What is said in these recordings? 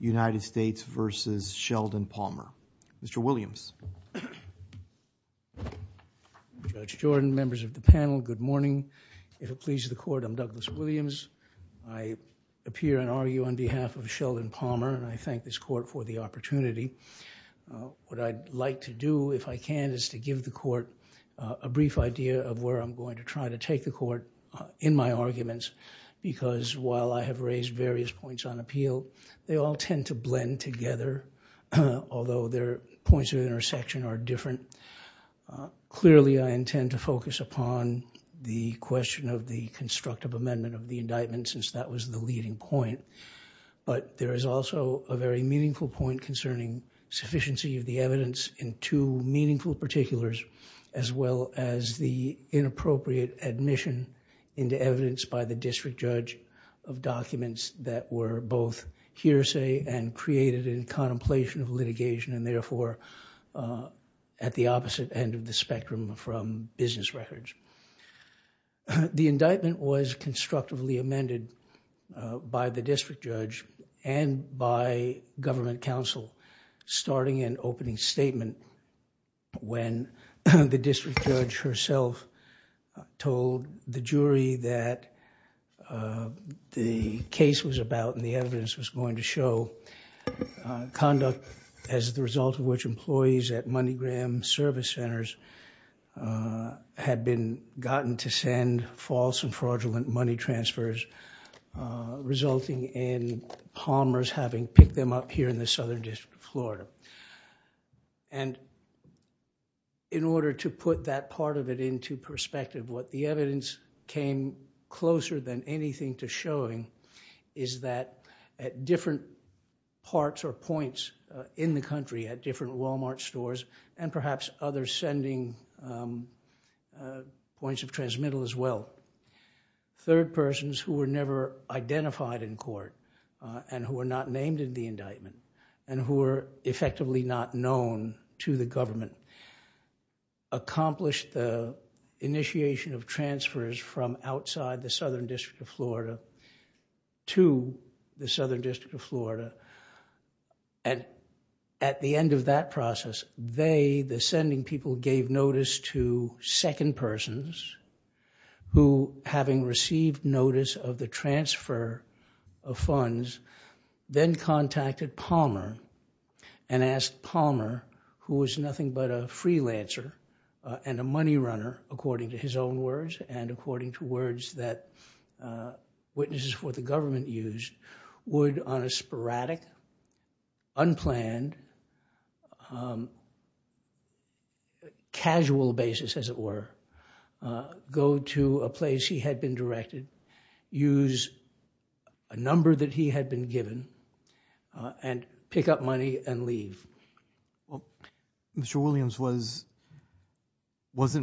United States v. Sheldon Palmer. Mr. Williams. Judge Jordan, members of the panel, good morning. If it pleases the Court, I'm Douglas Williams. I appear and argue on behalf of Sheldon Palmer, and I thank this Court for the opportunity. What I'd like to do, if I can, is to give the Court a brief idea of where I'm going to try to take the Court in my arguments, because while I have raised various points on appeal, they all tend to blend together, although their points of intersection are different. Clearly, I intend to focus upon the question of the constructive amendment of the indictment, since that was the leading point. But there is also a very meaningful point concerning sufficiency of the evidence in two meaningful particulars, as well as the inappropriate admission into evidence by the district judge of documents that were both hearsay and created in contemplation of litigation, and therefore, at the opposite end of the spectrum from business records. The indictment was constructively amended by the district judge and by government counsel, starting an opening statement when the district judge herself told the jury that the case was about, and the evidence was going to show, conduct as the result of which employees at MoneyGram service centers had been gotten to send false and fraudulent money transfers, resulting in Palmers having picked them up here in the Southern District of Florida. And in order to put that part of it into perspective, what the evidence came closer than anything to showing is that at different parts or points in the country, at different Walmart stores, and perhaps others sending points of transmittal as well, third persons who were never identified in court, and who were not named in the indictment, and who were effectively not known to the government, accomplished the initiation of transfers from outside the Southern District of Florida to the Southern District of Florida, and at the end of that process, they, the sending people, gave notice to second persons who, having received notice of the transfer of funds, then contacted Palmer and asked Palmer, who was nothing but a freelancer and a money runner, according to his own words and according to words that witnesses for the government used, would, on a sporadic, unplanned, casual basis, as it were, go to a place he had been directed, use a number that he had been given, and pick up money and leave. Mr. Williams, wasn't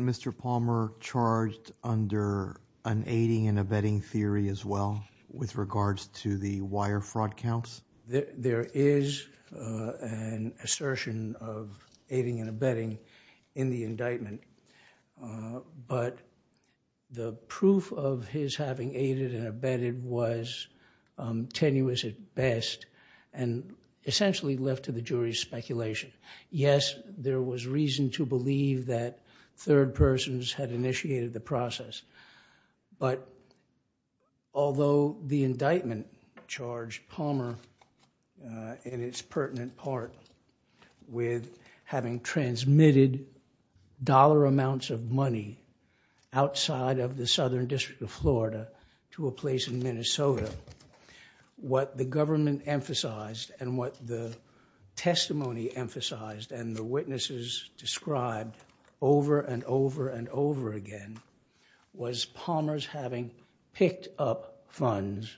Mr. Palmer charged under an aiding and abetting theory as well, with regards to the wire fraud counts? There is an assertion of aiding and abetting in the indictment, but the proof of his having aided and abetted was tenuous at best, and essentially left to the jury's speculation. Yes, there was reason to believe that third persons had initiated the process, but although the indictment charged Palmer, in its pertinent part, with having transmitted dollar amounts of money outside of the Southern District of Florida to a place in Minnesota, what the government emphasized and what the testimony emphasized and the witnesses described over and over and over again was Palmer's having picked up funds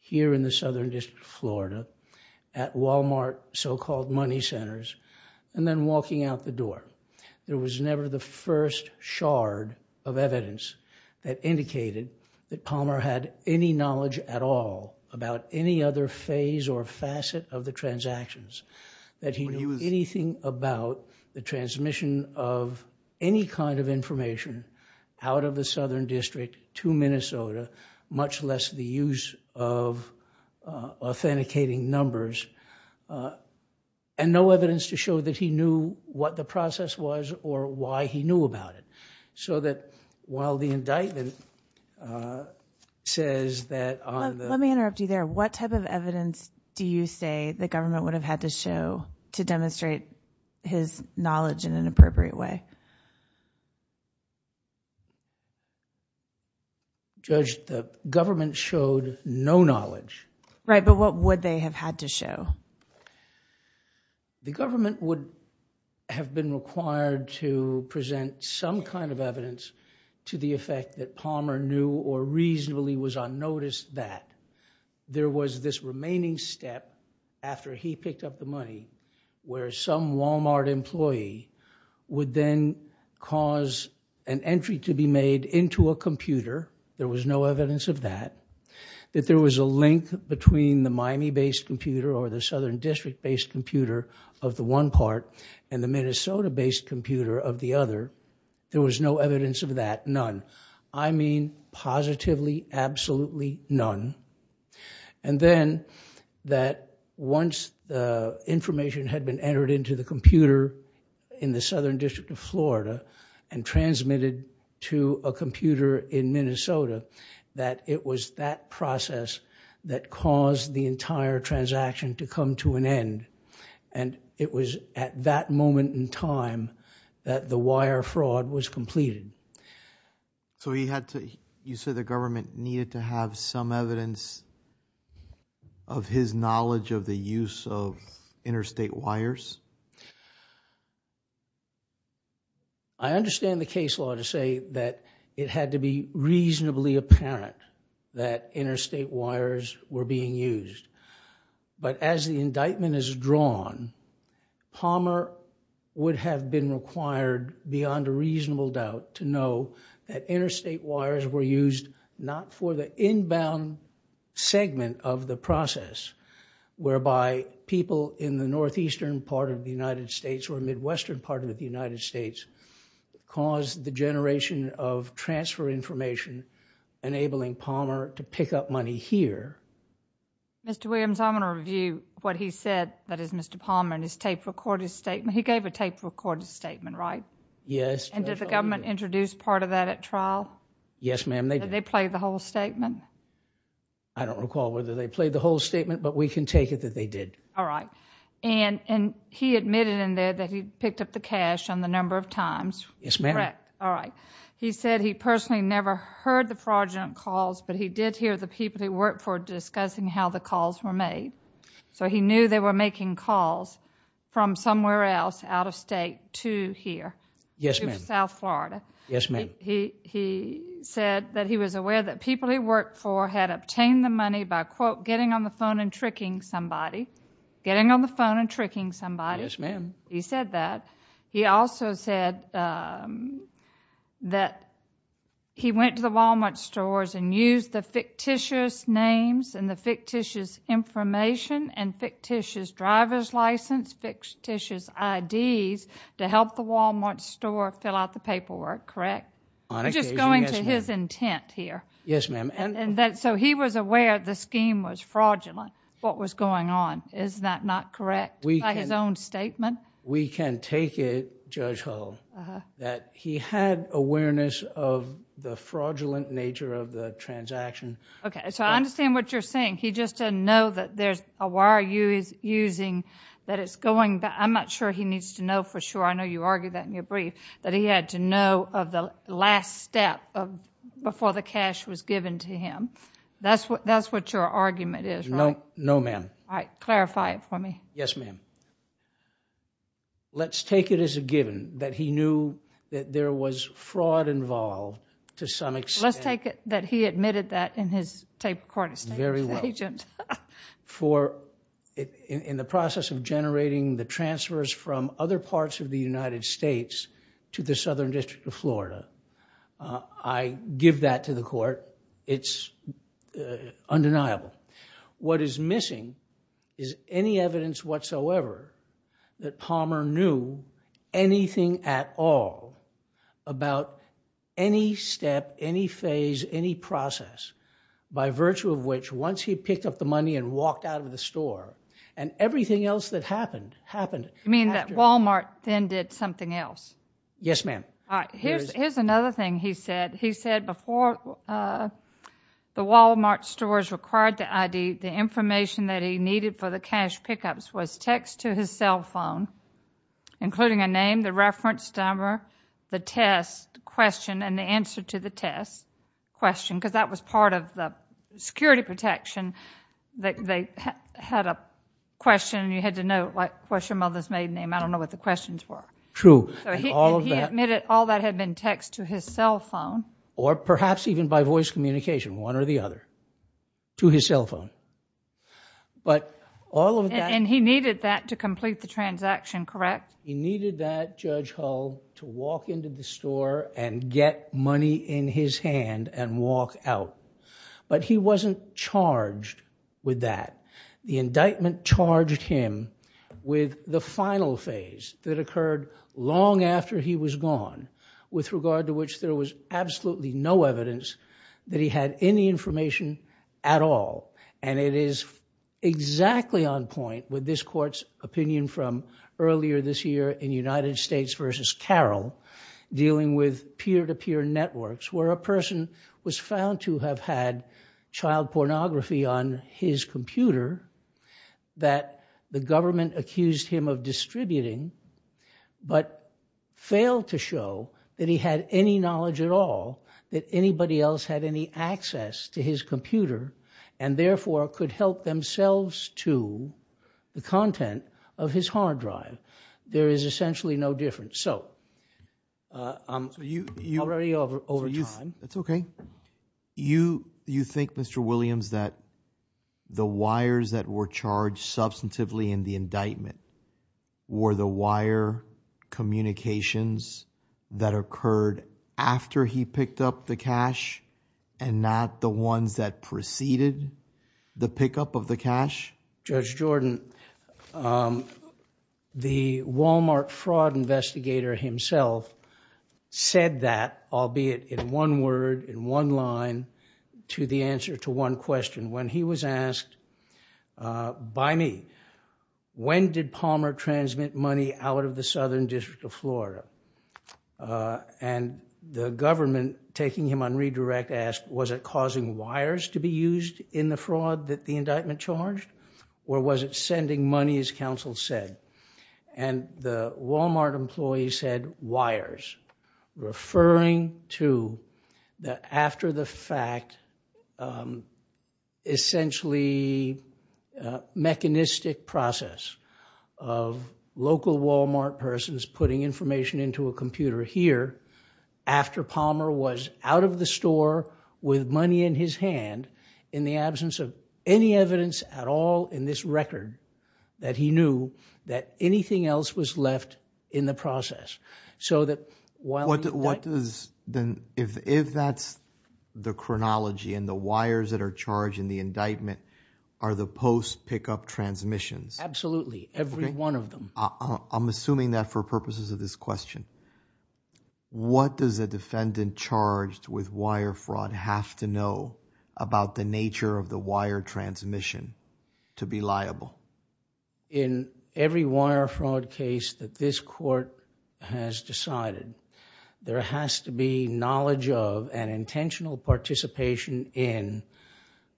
here in the Southern District of Florida at Walmart so-called money centers and then walking out the door. There was never the first shard of evidence that indicated that Palmer had any knowledge at all about any other phase or facet of the transactions, that he knew anything about the transmission of any kind of information out of the Southern District to Minnesota, much less the use of authenticating numbers, and no evidence to show that he knew what the process was or why he knew about it. So that while the indictment says that... Let me interrupt you there. What type of evidence do you say the government would have had to show to demonstrate his knowledge in an appropriate way? Judge, the government showed no knowledge. Right, but what would they have had to show? The government would have been required to present some kind of evidence to the effect that Palmer knew or reasonably was unnoticed that there was this remaining step after he picked up the money where some Walmart employee would then cause an entry to be made into a computer. There was no evidence of that. That there was a link between the Miami-based computer or the Southern District-based computer of the one part and the Minnesota-based computer of the other. There was no evidence of that, none. I mean positively, absolutely none. And then that once the information had been entered into the computer that it was that process that caused the entire transaction to come to an end. And it was at that moment in time that the wire fraud was completed. So you said the government needed to have some evidence of his knowledge of the use of interstate wires? Yes. I understand the case law to say that it had to be reasonably apparent that interstate wires were being used. But as the indictment is drawn, Palmer would have been required beyond a reasonable doubt to know that interstate wires were used not for the inbound segment of the process whereby people in the northeastern part of the United States or midwestern part of the United States caused the generation of transfer information enabling Palmer to pick up money here. Mr. Williams, I'm going to review what he said. That is, Mr. Palmer and his tape-recorded statement. He gave a tape-recorded statement, right? Yes. And did the government introduce part of that at trial? Yes, ma'am, they did. Did they play the whole statement? I don't recall whether they played the whole statement, but we can take it that they did. All right. And he admitted in there that he picked up the cash on the number of times. Yes, ma'am. All right. He said he personally never heard the fraudulent calls, but he did hear the people he worked for discussing how the calls were made. So he knew they were making calls from somewhere else out of state to here. Yes, ma'am. To South Florida. Yes, ma'am. He said that he was aware that people he worked for had obtained the money by, quote, getting on the phone and tricking somebody. Getting on the phone and tricking somebody. Yes, ma'am. He said that. He also said that he went to the Walmart stores and used the fictitious names and the fictitious information and fictitious driver's license, fictitious IDs, to help the Walmart store fill out the paperwork. Correct? On occasion, yes, ma'am. Just going to his intent here. Yes, ma'am. So he was aware the scheme was fraudulent, what was going on. Is that not correct by his own statement? We can take it, Judge Hull, that he had awareness of the fraudulent nature of the transaction. Okay. So I understand what you're saying. He just didn't know that there's a wire he was using, that it's going back. I'm not sure he needs to know for sure. I know you argued that in your brief, that he had to know of the last step before the cash was given to him. That's what your argument is, right? No, ma'am. All right. Clarify it for me. Yes, ma'am. Let's take it as a given that he knew that there was fraud involved to some extent. Let's take it that he admitted that in his tape recording statement. Very well. In the process of generating the transfers from other parts of the United States to the Southern District of Florida. I give that to the court. It's undeniable. What is missing is any evidence whatsoever that Palmer knew anything at all about any step, any phase, any process, by virtue of which once he picked up the money and walked out of the store and everything else that happened. You mean that Wal-Mart then did something else? Yes, ma'am. All right. Here's another thing he said. He said before the Wal-Mart stores required the ID, the information that he needed for the cash pickups was text to his cell phone, including a name, the reference number, the test question, and the answer to the test question because that was part of the security protection. They had a question and you had to know what your mother's maiden name. I don't know what the questions were. True. He admitted all that had been text to his cell phone. Or perhaps even by voice communication, one or the other, to his cell phone. But all of that... And he needed that to complete the transaction, correct? He needed that, Judge Hull, to walk into the store and get money in his hand and walk out. But he wasn't charged with that. The indictment charged him with the final phase that occurred long after he was gone, with regard to which there was absolutely no evidence that he had any information at all. And it is exactly on point with this court's opinion from earlier this year in United States v. Carroll, dealing with peer-to-peer networks where a person was found to have had child pornography on his computer that the government accused him of distributing, but failed to show that he had any knowledge at all that anybody else had any access to his computer. And therefore could help themselves to the content of his hard drive. There is essentially no difference. So, already over time... That's okay. You think, Mr. Williams, that the wires that were charged substantively in the indictment were the wire communications that occurred after he picked up the cash and not the ones that preceded the pickup of the cash? Judge Jordan, the Walmart fraud investigator himself said that, albeit in one word, in one line, to the answer to one question. When he was asked by me, when did Palmer transmit money out of the Southern District of Florida? And the government, taking him on redirect, asked, was it causing wires to be used in the fraud that the indictment charged? Or was it sending money, as counsel said? And the Walmart employee said, wires. Referring to the after-the-fact, essentially mechanistic process of local Walmart persons putting information into a computer here after Palmer was out of the store with money in his hand in the absence of any evidence at all in this record that he knew that anything else was left in the process. If that's the chronology and the wires that are charged in the indictment are the post-pickup transmissions? Absolutely, every one of them. I'm assuming that for purposes of this question. What does a defendant charged with wire fraud have to know about the nature of the wire transmission to be liable? In every wire fraud case that this court has decided, there has to be knowledge of an intentional participation in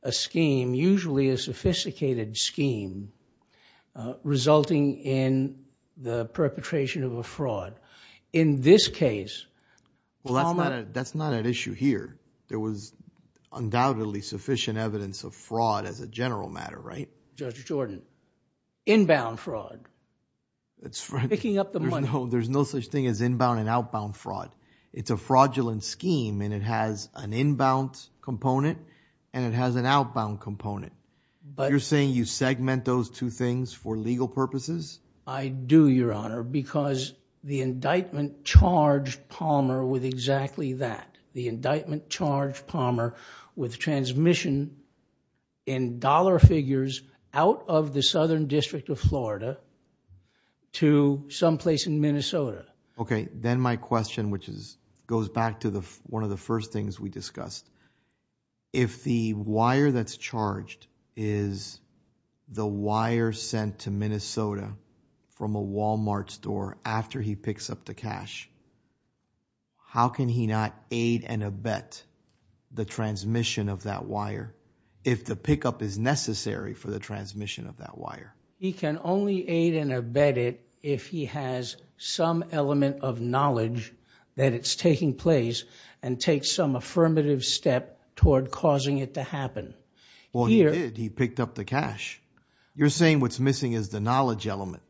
a scheme, usually a sophisticated scheme, resulting in the perpetration of a fraud. In this case, Palmer... Well, that's not an issue here. There was undoubtedly sufficient evidence of fraud as a general matter, right? Judge Jordan, inbound fraud, picking up the money. There's no such thing as inbound and outbound fraud. It's a fraudulent scheme, and it has an inbound component and it has an outbound component. You're saying you segment those two things for legal purposes? I do, Your Honor, because the indictment charged Palmer with exactly that. The indictment charged Palmer with transmission in dollar figures out of the Southern District of Florida to someplace in Minnesota. Okay, then my question, which goes back to one of the first things we discussed, if the wire that's charged is the wire sent to Minnesota from a Walmart store after he picks up the cash, how can he not aid and abet the transmission of that wire if the pickup is necessary for the transmission of that wire? He can only aid and abet it if he has some element of knowledge that it's taking place and takes some affirmative step toward causing it to happen. Well, he did. He picked up the cash. You're saying what's missing is the knowledge element.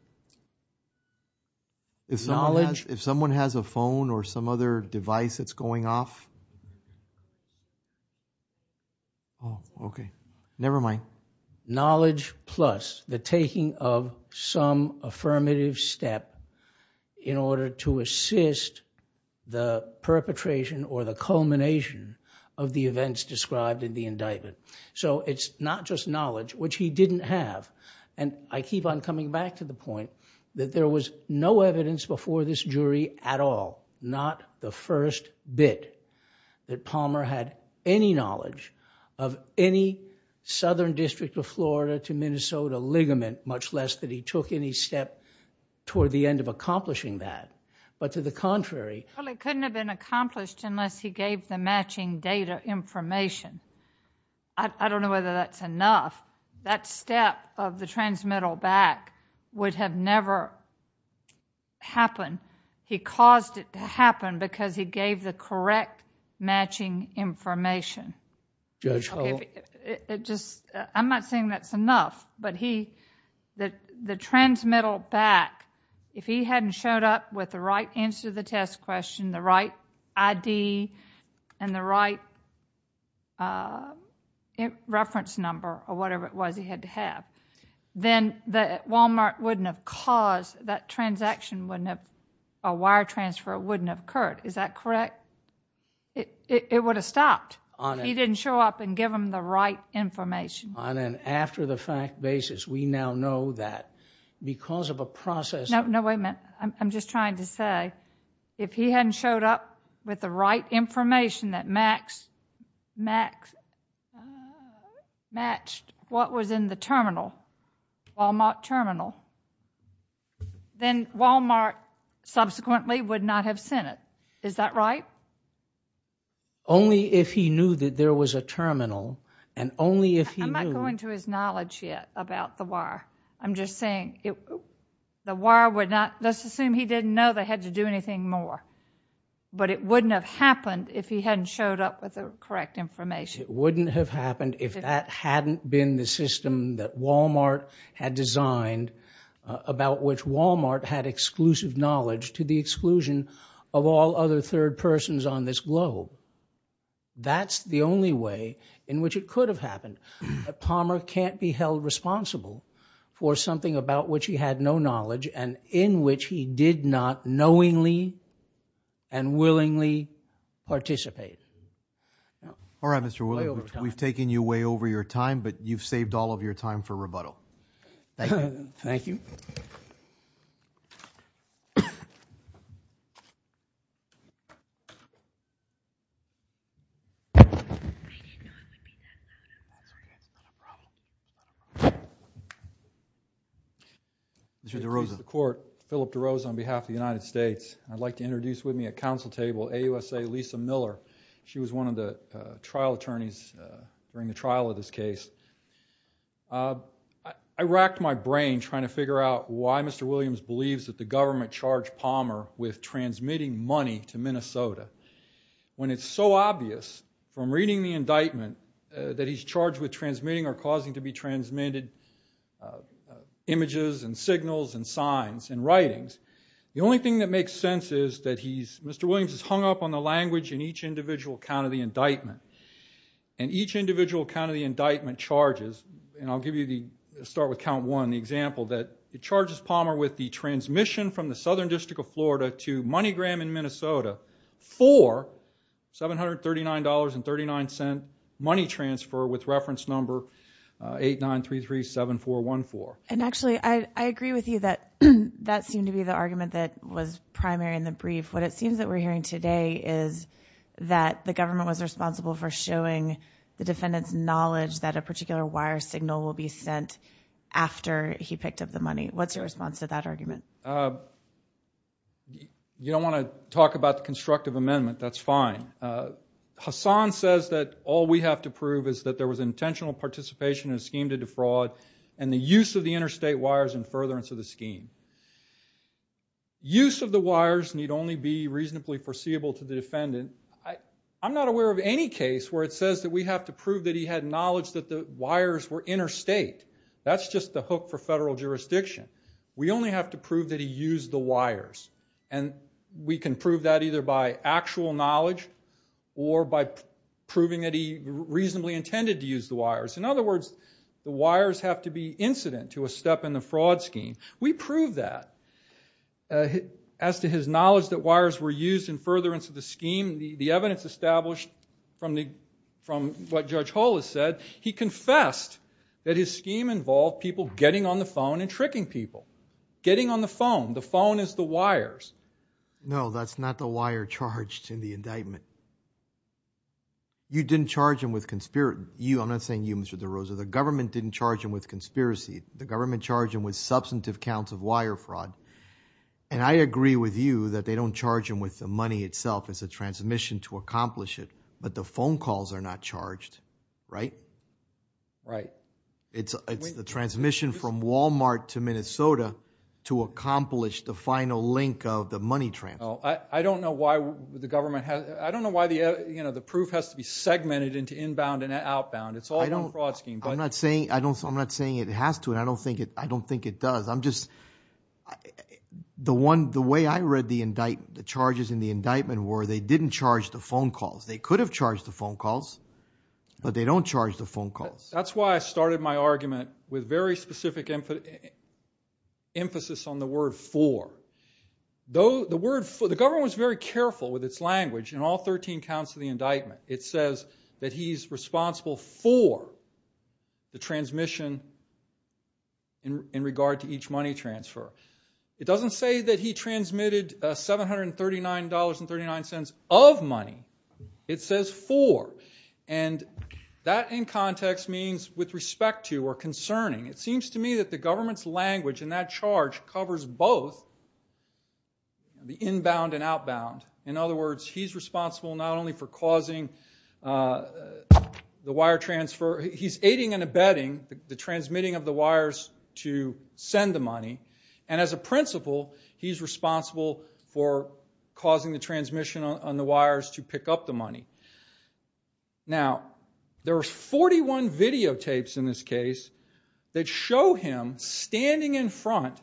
Knowledge? If someone has a phone or some other device that's going off. Oh, okay. Never mind. Knowledge plus the taking of some affirmative step in order to assist the perpetration or the culmination of the events described in the indictment. So it's not just knowledge, which he didn't have. And I keep on coming back to the point that there was no evidence before this jury at all, not the first bit, that Palmer had any knowledge of any southern district of Florida to Minnesota ligament, much less that he took any step toward the end of accomplishing that. But to the contrary... Well, it couldn't have been accomplished unless he gave the matching data information. I don't know whether that's enough. That step of the transmittal back would have never happened. He caused it to happen because he gave the correct matching information. Judge Hull? I'm not saying that's enough. But the transmittal back, if he hadn't showed up with the right answer to the test question, the right ID, and the right reference number or whatever it was he had to have, then Walmart wouldn't have caused that transaction, a wire transfer wouldn't have occurred. Is that correct? It would have stopped if he didn't show up and give them the right information. On an after-the-fact basis, we now know that because of a process... No, wait a minute. I'm just trying to say that if he hadn't showed up with the right information that matched what was in the terminal, Walmart terminal, then Walmart subsequently would not have sent it. Is that right? Only if he knew that there was a terminal, and only if he knew... I'm not going to his knowledge yet about the wire. I'm just saying the wire would not... But it wouldn't have happened if he hadn't showed up with the correct information. It wouldn't have happened if that hadn't been the system that Walmart had designed about which Walmart had exclusive knowledge to the exclusion of all other third persons on this globe. That's the only way in which it could have happened. Palmer can't be held responsible for something about which he had no knowledge and in which he did not knowingly and willingly participate. All right, Mr. Williams. We've taken you way over your time, but you've saved all of your time for rebuttal. Thank you. Thank you. Mr. DeRosa. Philip DeRosa on behalf of the United States. I'd like to introduce with me a counsel table, AUSA Lisa Miller. She was one of the trial attorneys during the trial of this case. I racked my brain trying to figure out why Mr. Williams believes that the government charged Palmer with transmitting money to Minnesota when it's so obvious from reading the indictment that he's charged with transmitting or causing to be transmitted images and signals and signs and writings. The only thing that makes sense is that he's, Mr. Williams is hung up on the language in each individual count of the indictment, and each individual count of the indictment charges, and I'll give you the, start with count one, the example that it charges Palmer with the transmission from the Southern District of Florida to MoneyGram in Minnesota for $739.39 money transfer with reference number 89337414. And actually, I agree with you that that seemed to be the argument that was primary in the brief. What it seems that we're hearing today is that the government was responsible for showing the defendant's knowledge that a particular wire signal will be sent after he picked up the money. What's your response to that argument? You don't want to talk about the constructive amendment. That's fine. Hassan says that all we have to prove is that there was intentional participation in a scheme to defraud and the use of the interstate wires in furtherance of the scheme. Use of the wires need only be reasonably foreseeable to the defendant. I'm not aware of any case where it says that we have to prove that he had knowledge that the wires were interstate. That's just the hook for federal jurisdiction. We only have to prove that he used the wires. And we can prove that either by actual knowledge or by proving that he reasonably intended to use the wires. In other words, the wires have to be incident to a step in the fraud scheme. We proved that. As to his knowledge that wires were used in furtherance of the scheme, the evidence established from what Judge Hull has said, he confessed that his scheme involved people getting on the phone and tricking people. Getting on the phone. The phone is the wires. No, that's not the wire charged in the indictment. You didn't charge him with conspiracy. I'm not saying you, Mr. DeRosa. The government didn't charge him with conspiracy. The government charged him with substantive counts of wire fraud. And I agree with you that they don't charge him with the money itself. It's a transmission to accomplish it. But the phone calls are not charged, right? Right. It's the transmission from Walmart to Minnesota to accomplish the final link of the money transfer. I don't know why the government has... I don't know why the proof has to be segmented into inbound and outbound. It's all in the fraud scheme. I'm not saying it has to, and I don't think it does. I'm just... The way I read the charges in the indictment were they didn't charge the phone calls. They could have charged the phone calls, but they don't charge the phone calls. That's why I started my argument with very specific emphasis on the word for. The government was very careful with its language. In all 13 counts of the indictment, it says that he's responsible for the transmission in regard to each money transfer. It doesn't say that he transmitted $739.39 of money. It says for, and that in context means with respect to or concerning. It seems to me that the government's language in that charge covers both the inbound and outbound. In other words, he's responsible not only for causing the wire transfer. He's aiding and abetting the transmitting of the wires to send the money. And as a principle, he's responsible for causing the transmission on the wires to pick up the money. Now, there are 41 videotapes in this case that show him standing in front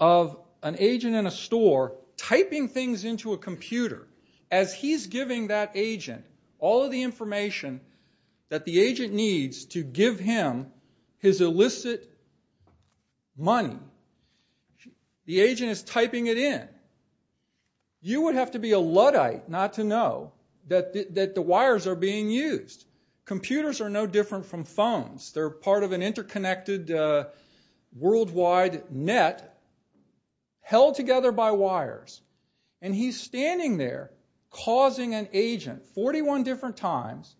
of an agent in a store typing things into a computer. As he's giving that agent all of the information that the agent needs to give him his illicit money, the agent is typing it in. You would have to be a Luddite not to know that the wires are being used. Computers are no different from phones. They're part of an interconnected worldwide net And he's standing there causing an agent 41 different times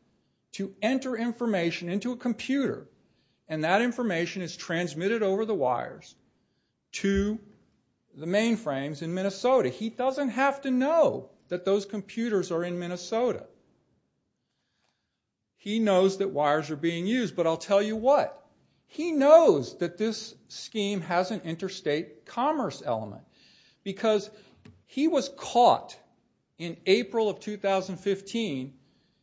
to enter information into a computer. And that information is transmitted over the wires to the mainframes in Minnesota. He doesn't have to know that those computers are in Minnesota. He knows that wires are being used, but I'll tell you what. He knows that this scheme has an interstate commerce element because he was caught in April of 2015.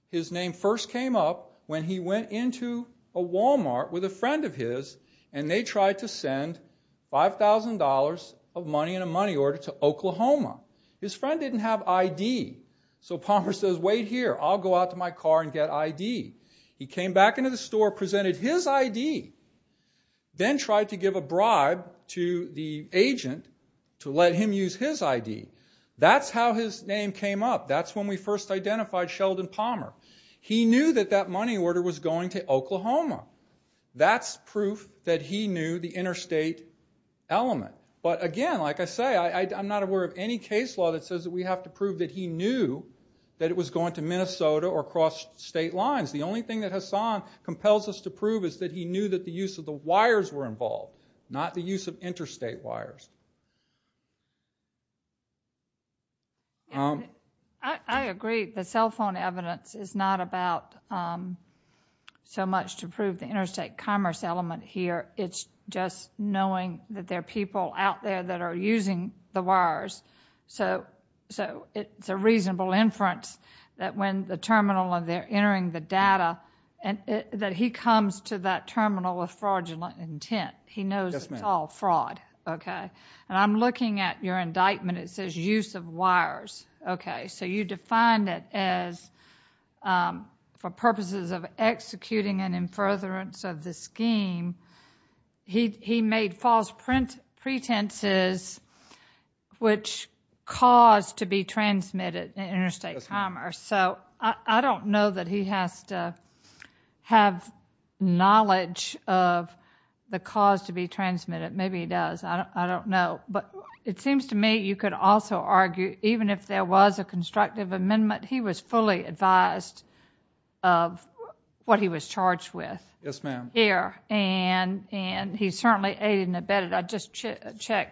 His name first came up when he went into a Walmart with a friend of his, and they tried to send $5,000 of money in a money order to Oklahoma. His friend didn't have ID, so Palmer says, wait here, I'll go out to my car and get ID. He came back into the store, presented his ID, then tried to give a bribe to the agent to let him use his ID. That's how his name came up. That's when we first identified Sheldon Palmer. He knew that that money order was going to Oklahoma. That's proof that he knew the interstate element. But again, like I say, I'm not aware of any case law that says that we have to prove that he knew that it was going to Minnesota or across state lines. The only thing that Hassan compels us to prove is that he knew that the use of the wires were involved, not the use of interstate wires. I agree. The cell phone evidence is not about so much to prove the interstate commerce element here. It's just knowing that there are people out there that are using the wires, so it's a reasonable inference that when the terminal and they're entering the data, that he comes to that terminal with fraudulent intent. He knows it's all fraud, okay? And I'm looking at your indictment. It says use of wires, okay? So you defined it as for purposes of executing an infurtherance of the scheme. He made false pretenses, which caused to be transmitted in interstate commerce. So I don't know that he has to have knowledge of the cause to be transmitted. Maybe he does. I don't know. But it seems to me you could also argue even if there was a constructive amendment, he was fully advised of what he was charged with. Yes, ma'am. And he certainly aided and abetted.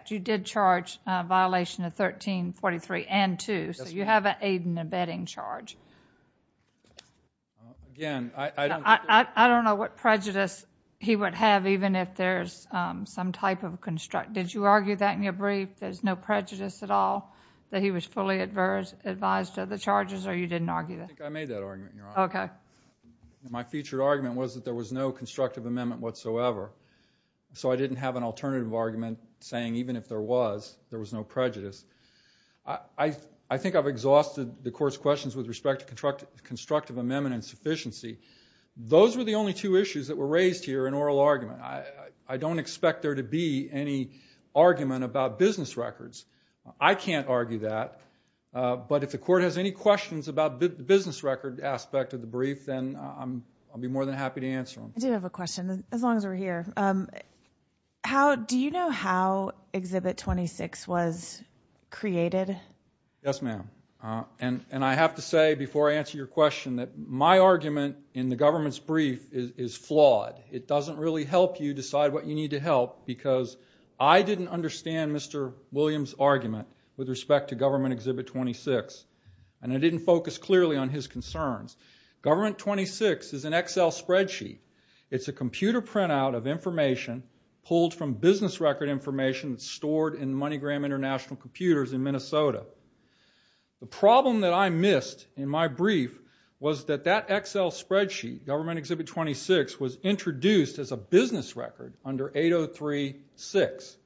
You did charge a violation of 1343 and 2. Yes, ma'am. So you have an aid and abetting charge. Again, I don't think... he would have even if there's some type of... Did you argue that in your brief, there's no prejudice at all, that he was fully advised of the charges, or you didn't argue that? I think I made that argument, Your Honor. Okay. My featured argument was that there was no constructive amendment whatsoever. So I didn't have an alternative argument saying even if there was, there was no prejudice. I think I've exhausted the Court's questions with respect to constructive amendment and sufficiency. Those were the only two issues that were raised here in oral argument. I don't expect there to be any argument about business records. I can't argue that. But if the Court has any questions about the business record aspect of the brief, then I'll be more than happy to answer them. I do have a question, as long as we're here. Do you know how Exhibit 26 was created? Yes, ma'am. And I have to say before I answer your question that my argument in the government's brief is flawed. It doesn't really help you decide what you need to help because I didn't understand Mr. Williams' argument with respect to Government Exhibit 26. And I didn't focus clearly on his concerns. Government 26 is an Excel spreadsheet. It's a computer printout of information pulled from business record information that's stored in MoneyGram International Computers in Minnesota. The problem that I missed in my brief was that that Excel spreadsheet, Government Exhibit 26, was introduced as a business record under 803-6.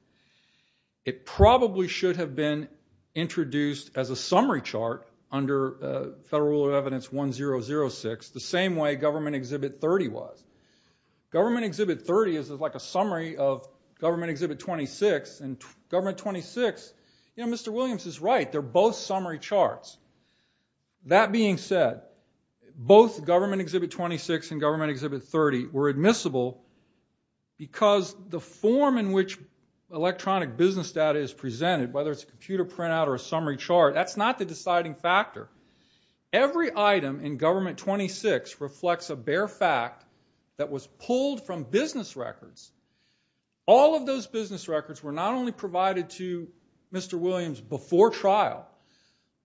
It probably should have been introduced as a summary chart under Federal Rule of Evidence 1006, the same way Government Exhibit 30 was. Government Exhibit 30 is like a summary of Government Exhibit 26. And Government 26, you know, Mr. Williams is right. They're both summary charts. That being said, both Government Exhibit 26 and Government Exhibit 30 were admissible because the form in which electronic business data is presented, whether it's a computer printout or a summary chart, that's not the deciding factor. Every item in Government 26 reflects a bare fact that was pulled from business records. All of those business records were not only provided to Mr. Williams before trial,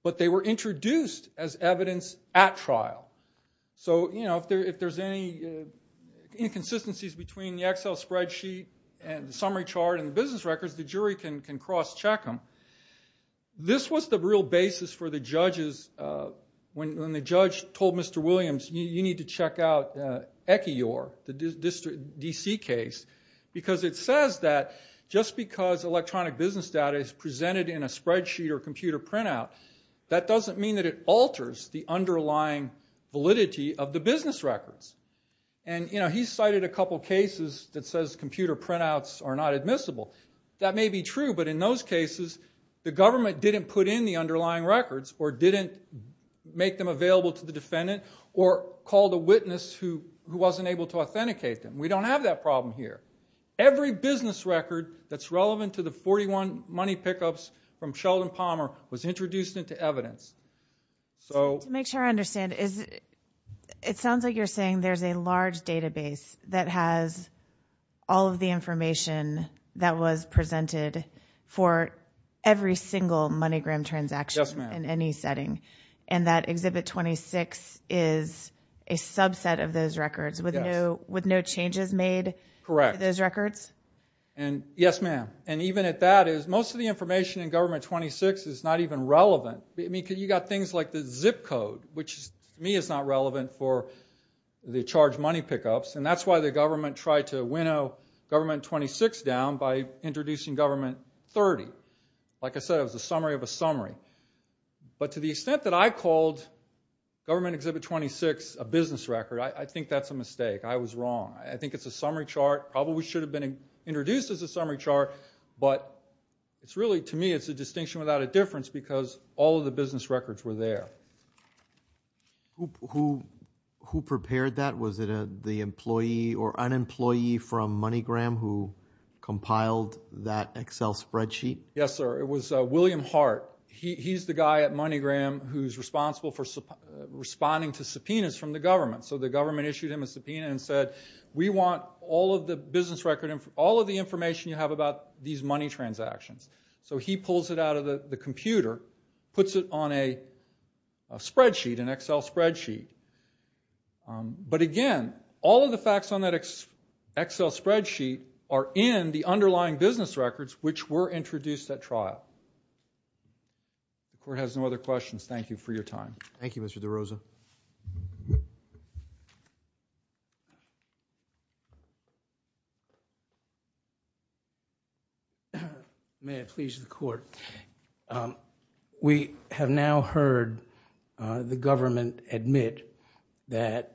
but they were introduced as evidence at trial. So, you know, if there's any inconsistencies between the Excel spreadsheet and the summary chart and the business records, the jury can cross-check them. This was the real basis for the judges when the judge told Mr. Williams, you need to check out ECIOR, the DC case, because it says that just because electronic business data is presented in a spreadsheet or computer printout, that doesn't mean that it alters the underlying validity of the business records. And, you know, he's cited a couple cases that says computer printouts are not admissible. That may be true, but in those cases, the government didn't put in the underlying records or didn't make them available to the defendant or called a witness who wasn't able to authenticate them. We don't have that problem here. Every business record that's relevant to the 41 money pickups from Sheldon Palmer was introduced into evidence. So... To make sure I understand, it sounds like you're saying there's a large database that has all of the information Yes, ma'am. And that Exhibit 26 is a subset of those records with no changes made to those records? Correct. Yes, ma'am. And even at that, most of the information in Government 26 is not even relevant. You've got things like the zip code, which to me is not relevant for the charged money pickups, and that's why the government tried to winnow Government 26 down by introducing Government 30. Like I said, it was a summary of a summary. But to the extent that I called Government Exhibit 26 a business record, I think that's a mistake. I was wrong. I think it's a summary chart. It probably should have been introduced as a summary chart, but to me it's a distinction without a difference because all of the business records were there. Who prepared that? Was it the employee or unemployee from MoneyGram who compiled that Excel spreadsheet? Yes, sir. It was William Hart. He's the guy at MoneyGram who's responsible for responding to subpoenas from the government. So the government issued him a subpoena and said, we want all of the business record, all of the information you have about these money transactions. So he pulls it out of the computer, puts it on a spreadsheet, an Excel spreadsheet. But again, all of the facts on that Excel spreadsheet are in the underlying business records which were introduced at trial. The court has no other questions. Thank you for your time. Thank you, Mr. DeRosa. May it please the court. We have now heard the government admit that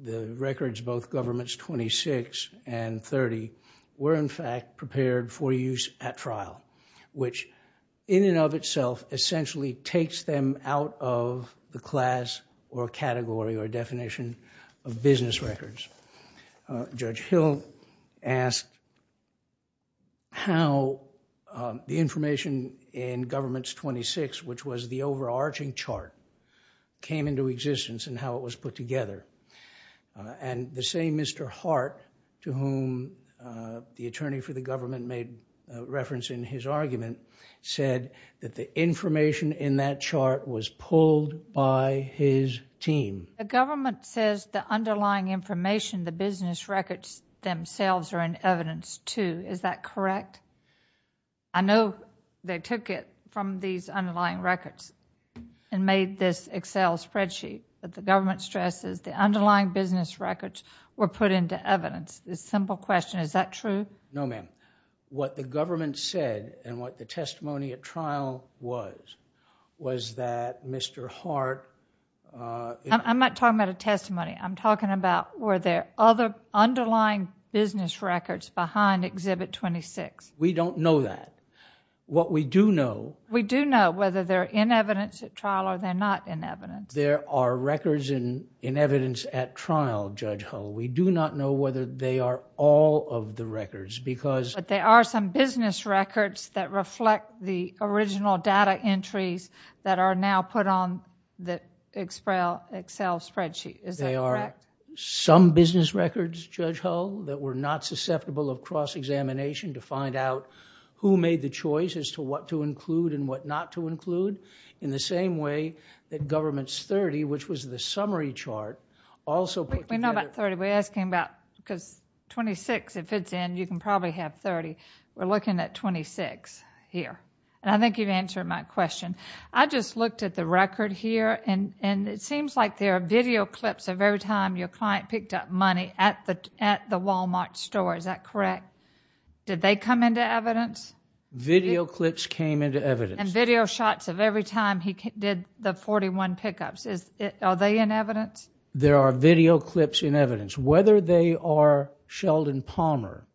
the records of both Governments 26 and 30 were in fact prepared for use at trial, which in and of itself essentially takes them out of the class or category or definition of business records. Judge Hill asked how the information in Governments 26, which was the overarching chart, came into existence and how it was put together. And the same Mr. Hart, to whom the attorney for the government made reference in his argument, said that the information in that chart was pulled by his team. The government says the underlying information, the business records themselves are in evidence too. Is that correct? I know they took it from these underlying records and made this Excel spreadsheet, but the government stresses the underlying business records were put into evidence. It's a simple question. Is that true? No, ma'am. What the government said and what the testimony at trial was was that Mr. Hart... I'm not talking about a testimony. I'm talking about were there other underlying business records behind Exhibit 26. We don't know that. What we do know... We do know whether they're in evidence at trial or they're not in evidence. There are records in evidence at trial, Judge Hull. We do not know whether they are all of the records because... But there are some business records that reflect the original data entries that are now put on the Excel spreadsheet. Is that correct? There are some business records, Judge Hull, that were not susceptible of cross-examination as to what to include and what not to include in the same way that Government's 30, which was the summary chart, also put together... We know about 30. We're asking about... Because 26, if it's in, you can probably have 30. We're looking at 26 here. And I think you've answered my question. I just looked at the record here, and it seems like there are video clips of every time your client picked up money at the Walmart store. Is that correct? Did they come into evidence? Video clips came into evidence. And video shots of every time he did the 41 pickups. Are they in evidence? There are video clips in evidence. Whether they are Sheldon Palmer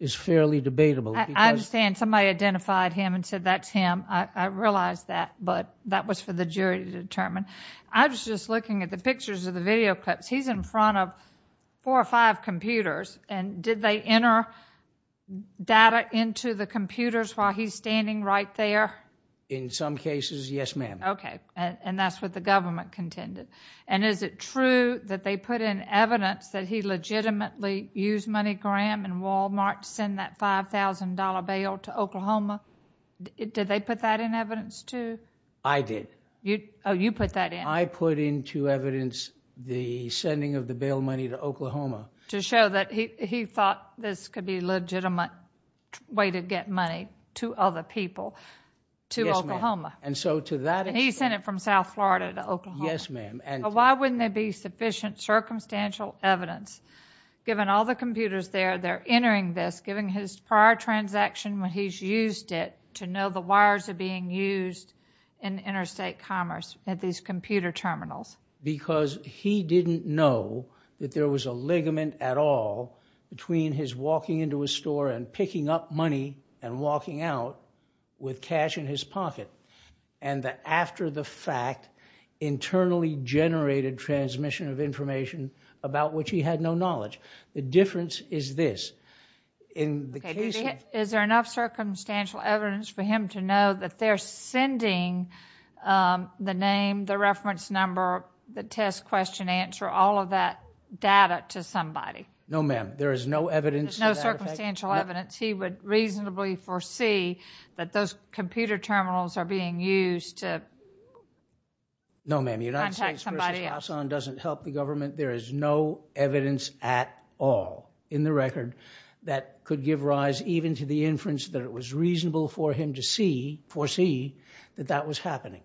is fairly debatable. I understand. Somebody identified him and said, that's him, I realize that, but that was for the jury to determine. I was just looking at the pictures of the video clips. He's in front of four or five computers, and did they enter data into the computers while he's standing right there? In some cases, yes, ma'am. Okay, and that's what the government contended. And is it true that they put in evidence that he legitimately used MoneyGram and Walmart to send that $5,000 bail to Oklahoma? Did they put that in evidence, too? I did. Oh, you put that in. I put into evidence the sending of the bail money to Oklahoma. To show that he thought this could be Yes, ma'am. And he sent it from South Florida to Oklahoma. Yes, ma'am. Why wouldn't there be sufficient circumstantial evidence, given all the computers there, they're entering this, given his prior transaction when he's used it, to know the wires are being used in interstate commerce at these computer terminals? Because he didn't know that there was a ligament at all between his walking into a store and picking up money and walking out with cash in his pocket and the after-the-fact, internally-generated transmission of information about which he had no knowledge. The difference is this. Is there enough circumstantial evidence for him to know that they're sending the name, the reference number, the test question answer, all of that data to somebody? No, ma'am. There is no evidence. There's no circumstantial evidence. He would reasonably foresee that those computer terminals are being used to contact somebody else. No, ma'am. United States v. Hassan doesn't help the government. There is no evidence at all in the record that could give rise even to the inference that it was reasonable for him to foresee that that was happening.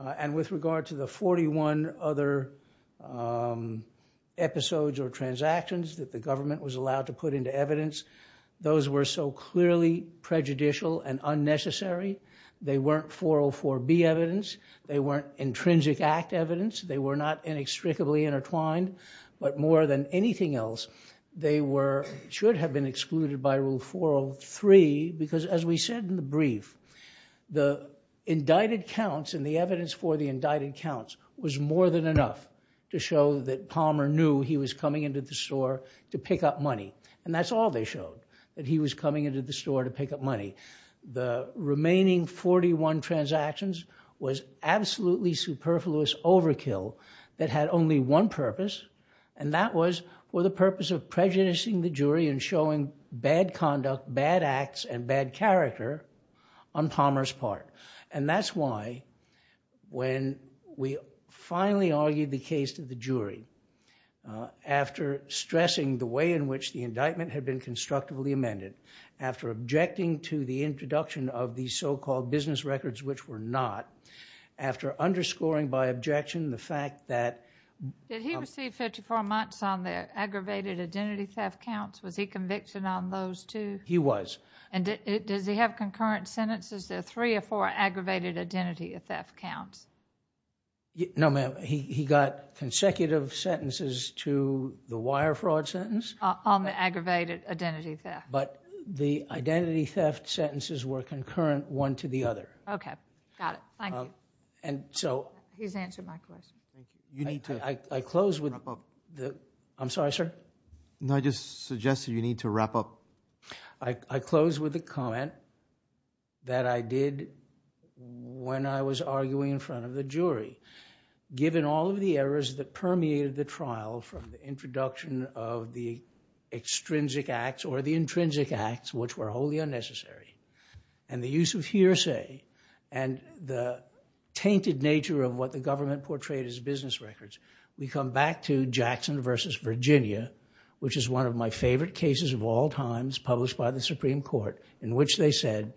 And with regard to the 41 other episodes or transactions that the government was allowed to put into evidence, those were so clearly prejudicial and unnecessary. They weren't 404B evidence. They weren't Intrinsic Act evidence. They were not inextricably intertwined. But more than anything else, they should have been excluded by Rule 403 because, as we said in the brief, the indicted counts and the evidence for the indicted counts was more than enough to show that Palmer knew he was coming into the store to pick up money. And that's all they showed, that he was coming into the store to pick up money. The remaining 41 transactions was absolutely superfluous overkill that had only one purpose, and that was for the purpose of prejudicing the jury and showing bad conduct, bad acts, and bad character on Palmer's part. And that's why, when we finally argued the case to the jury, after stressing the way in which the indictment had been constructively amended, after objecting to the introduction of the so-called business records, which were not, after underscoring by objection the fact that... Did he receive 54 months on the aggravated identity theft counts? Was he convicted on those two? He was. And does he have concurrent sentences? There are three or four aggravated identity theft counts. No, ma'am. He got consecutive sentences to the wire fraud sentence. On the aggravated identity theft. But the identity theft sentences were concurrent one to the other. Okay. Got it. Thank you. And so... He's answered my question. You need to... I close with... Wrap up. I'm sorry, sir? No, I just suggested you need to wrap up. I close with a comment that I did when I was arguing in front of the jury. Given all of the errors that permeated the trial from the introduction of the extrinsic acts or the intrinsic acts, which were wholly unnecessary, and the use of hearsay, and the tainted nature of what the government portrayed as business records, we come back to Jackson v. Virginia, which is one of my favorite cases of all times published by the Supreme Court, in which they said,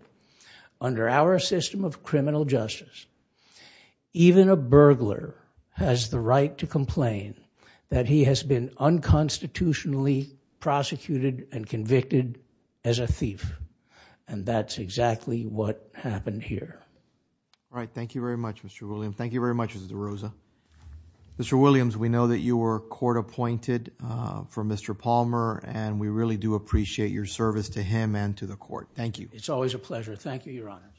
under our system of criminal justice, even a burglar has the right to complain that he has been unconstitutionally prosecuted and convicted as a thief. And that's exactly what happened here. All right. Thank you very much, Mr. Williams. Thank you very much, Mr. Rosa. Mr. Williams, we know that you were court appointed for Mr. Palmer, and we really do appreciate your service to him and to the court. Thank you. It's always a pleasure. Thank you, Your Honor.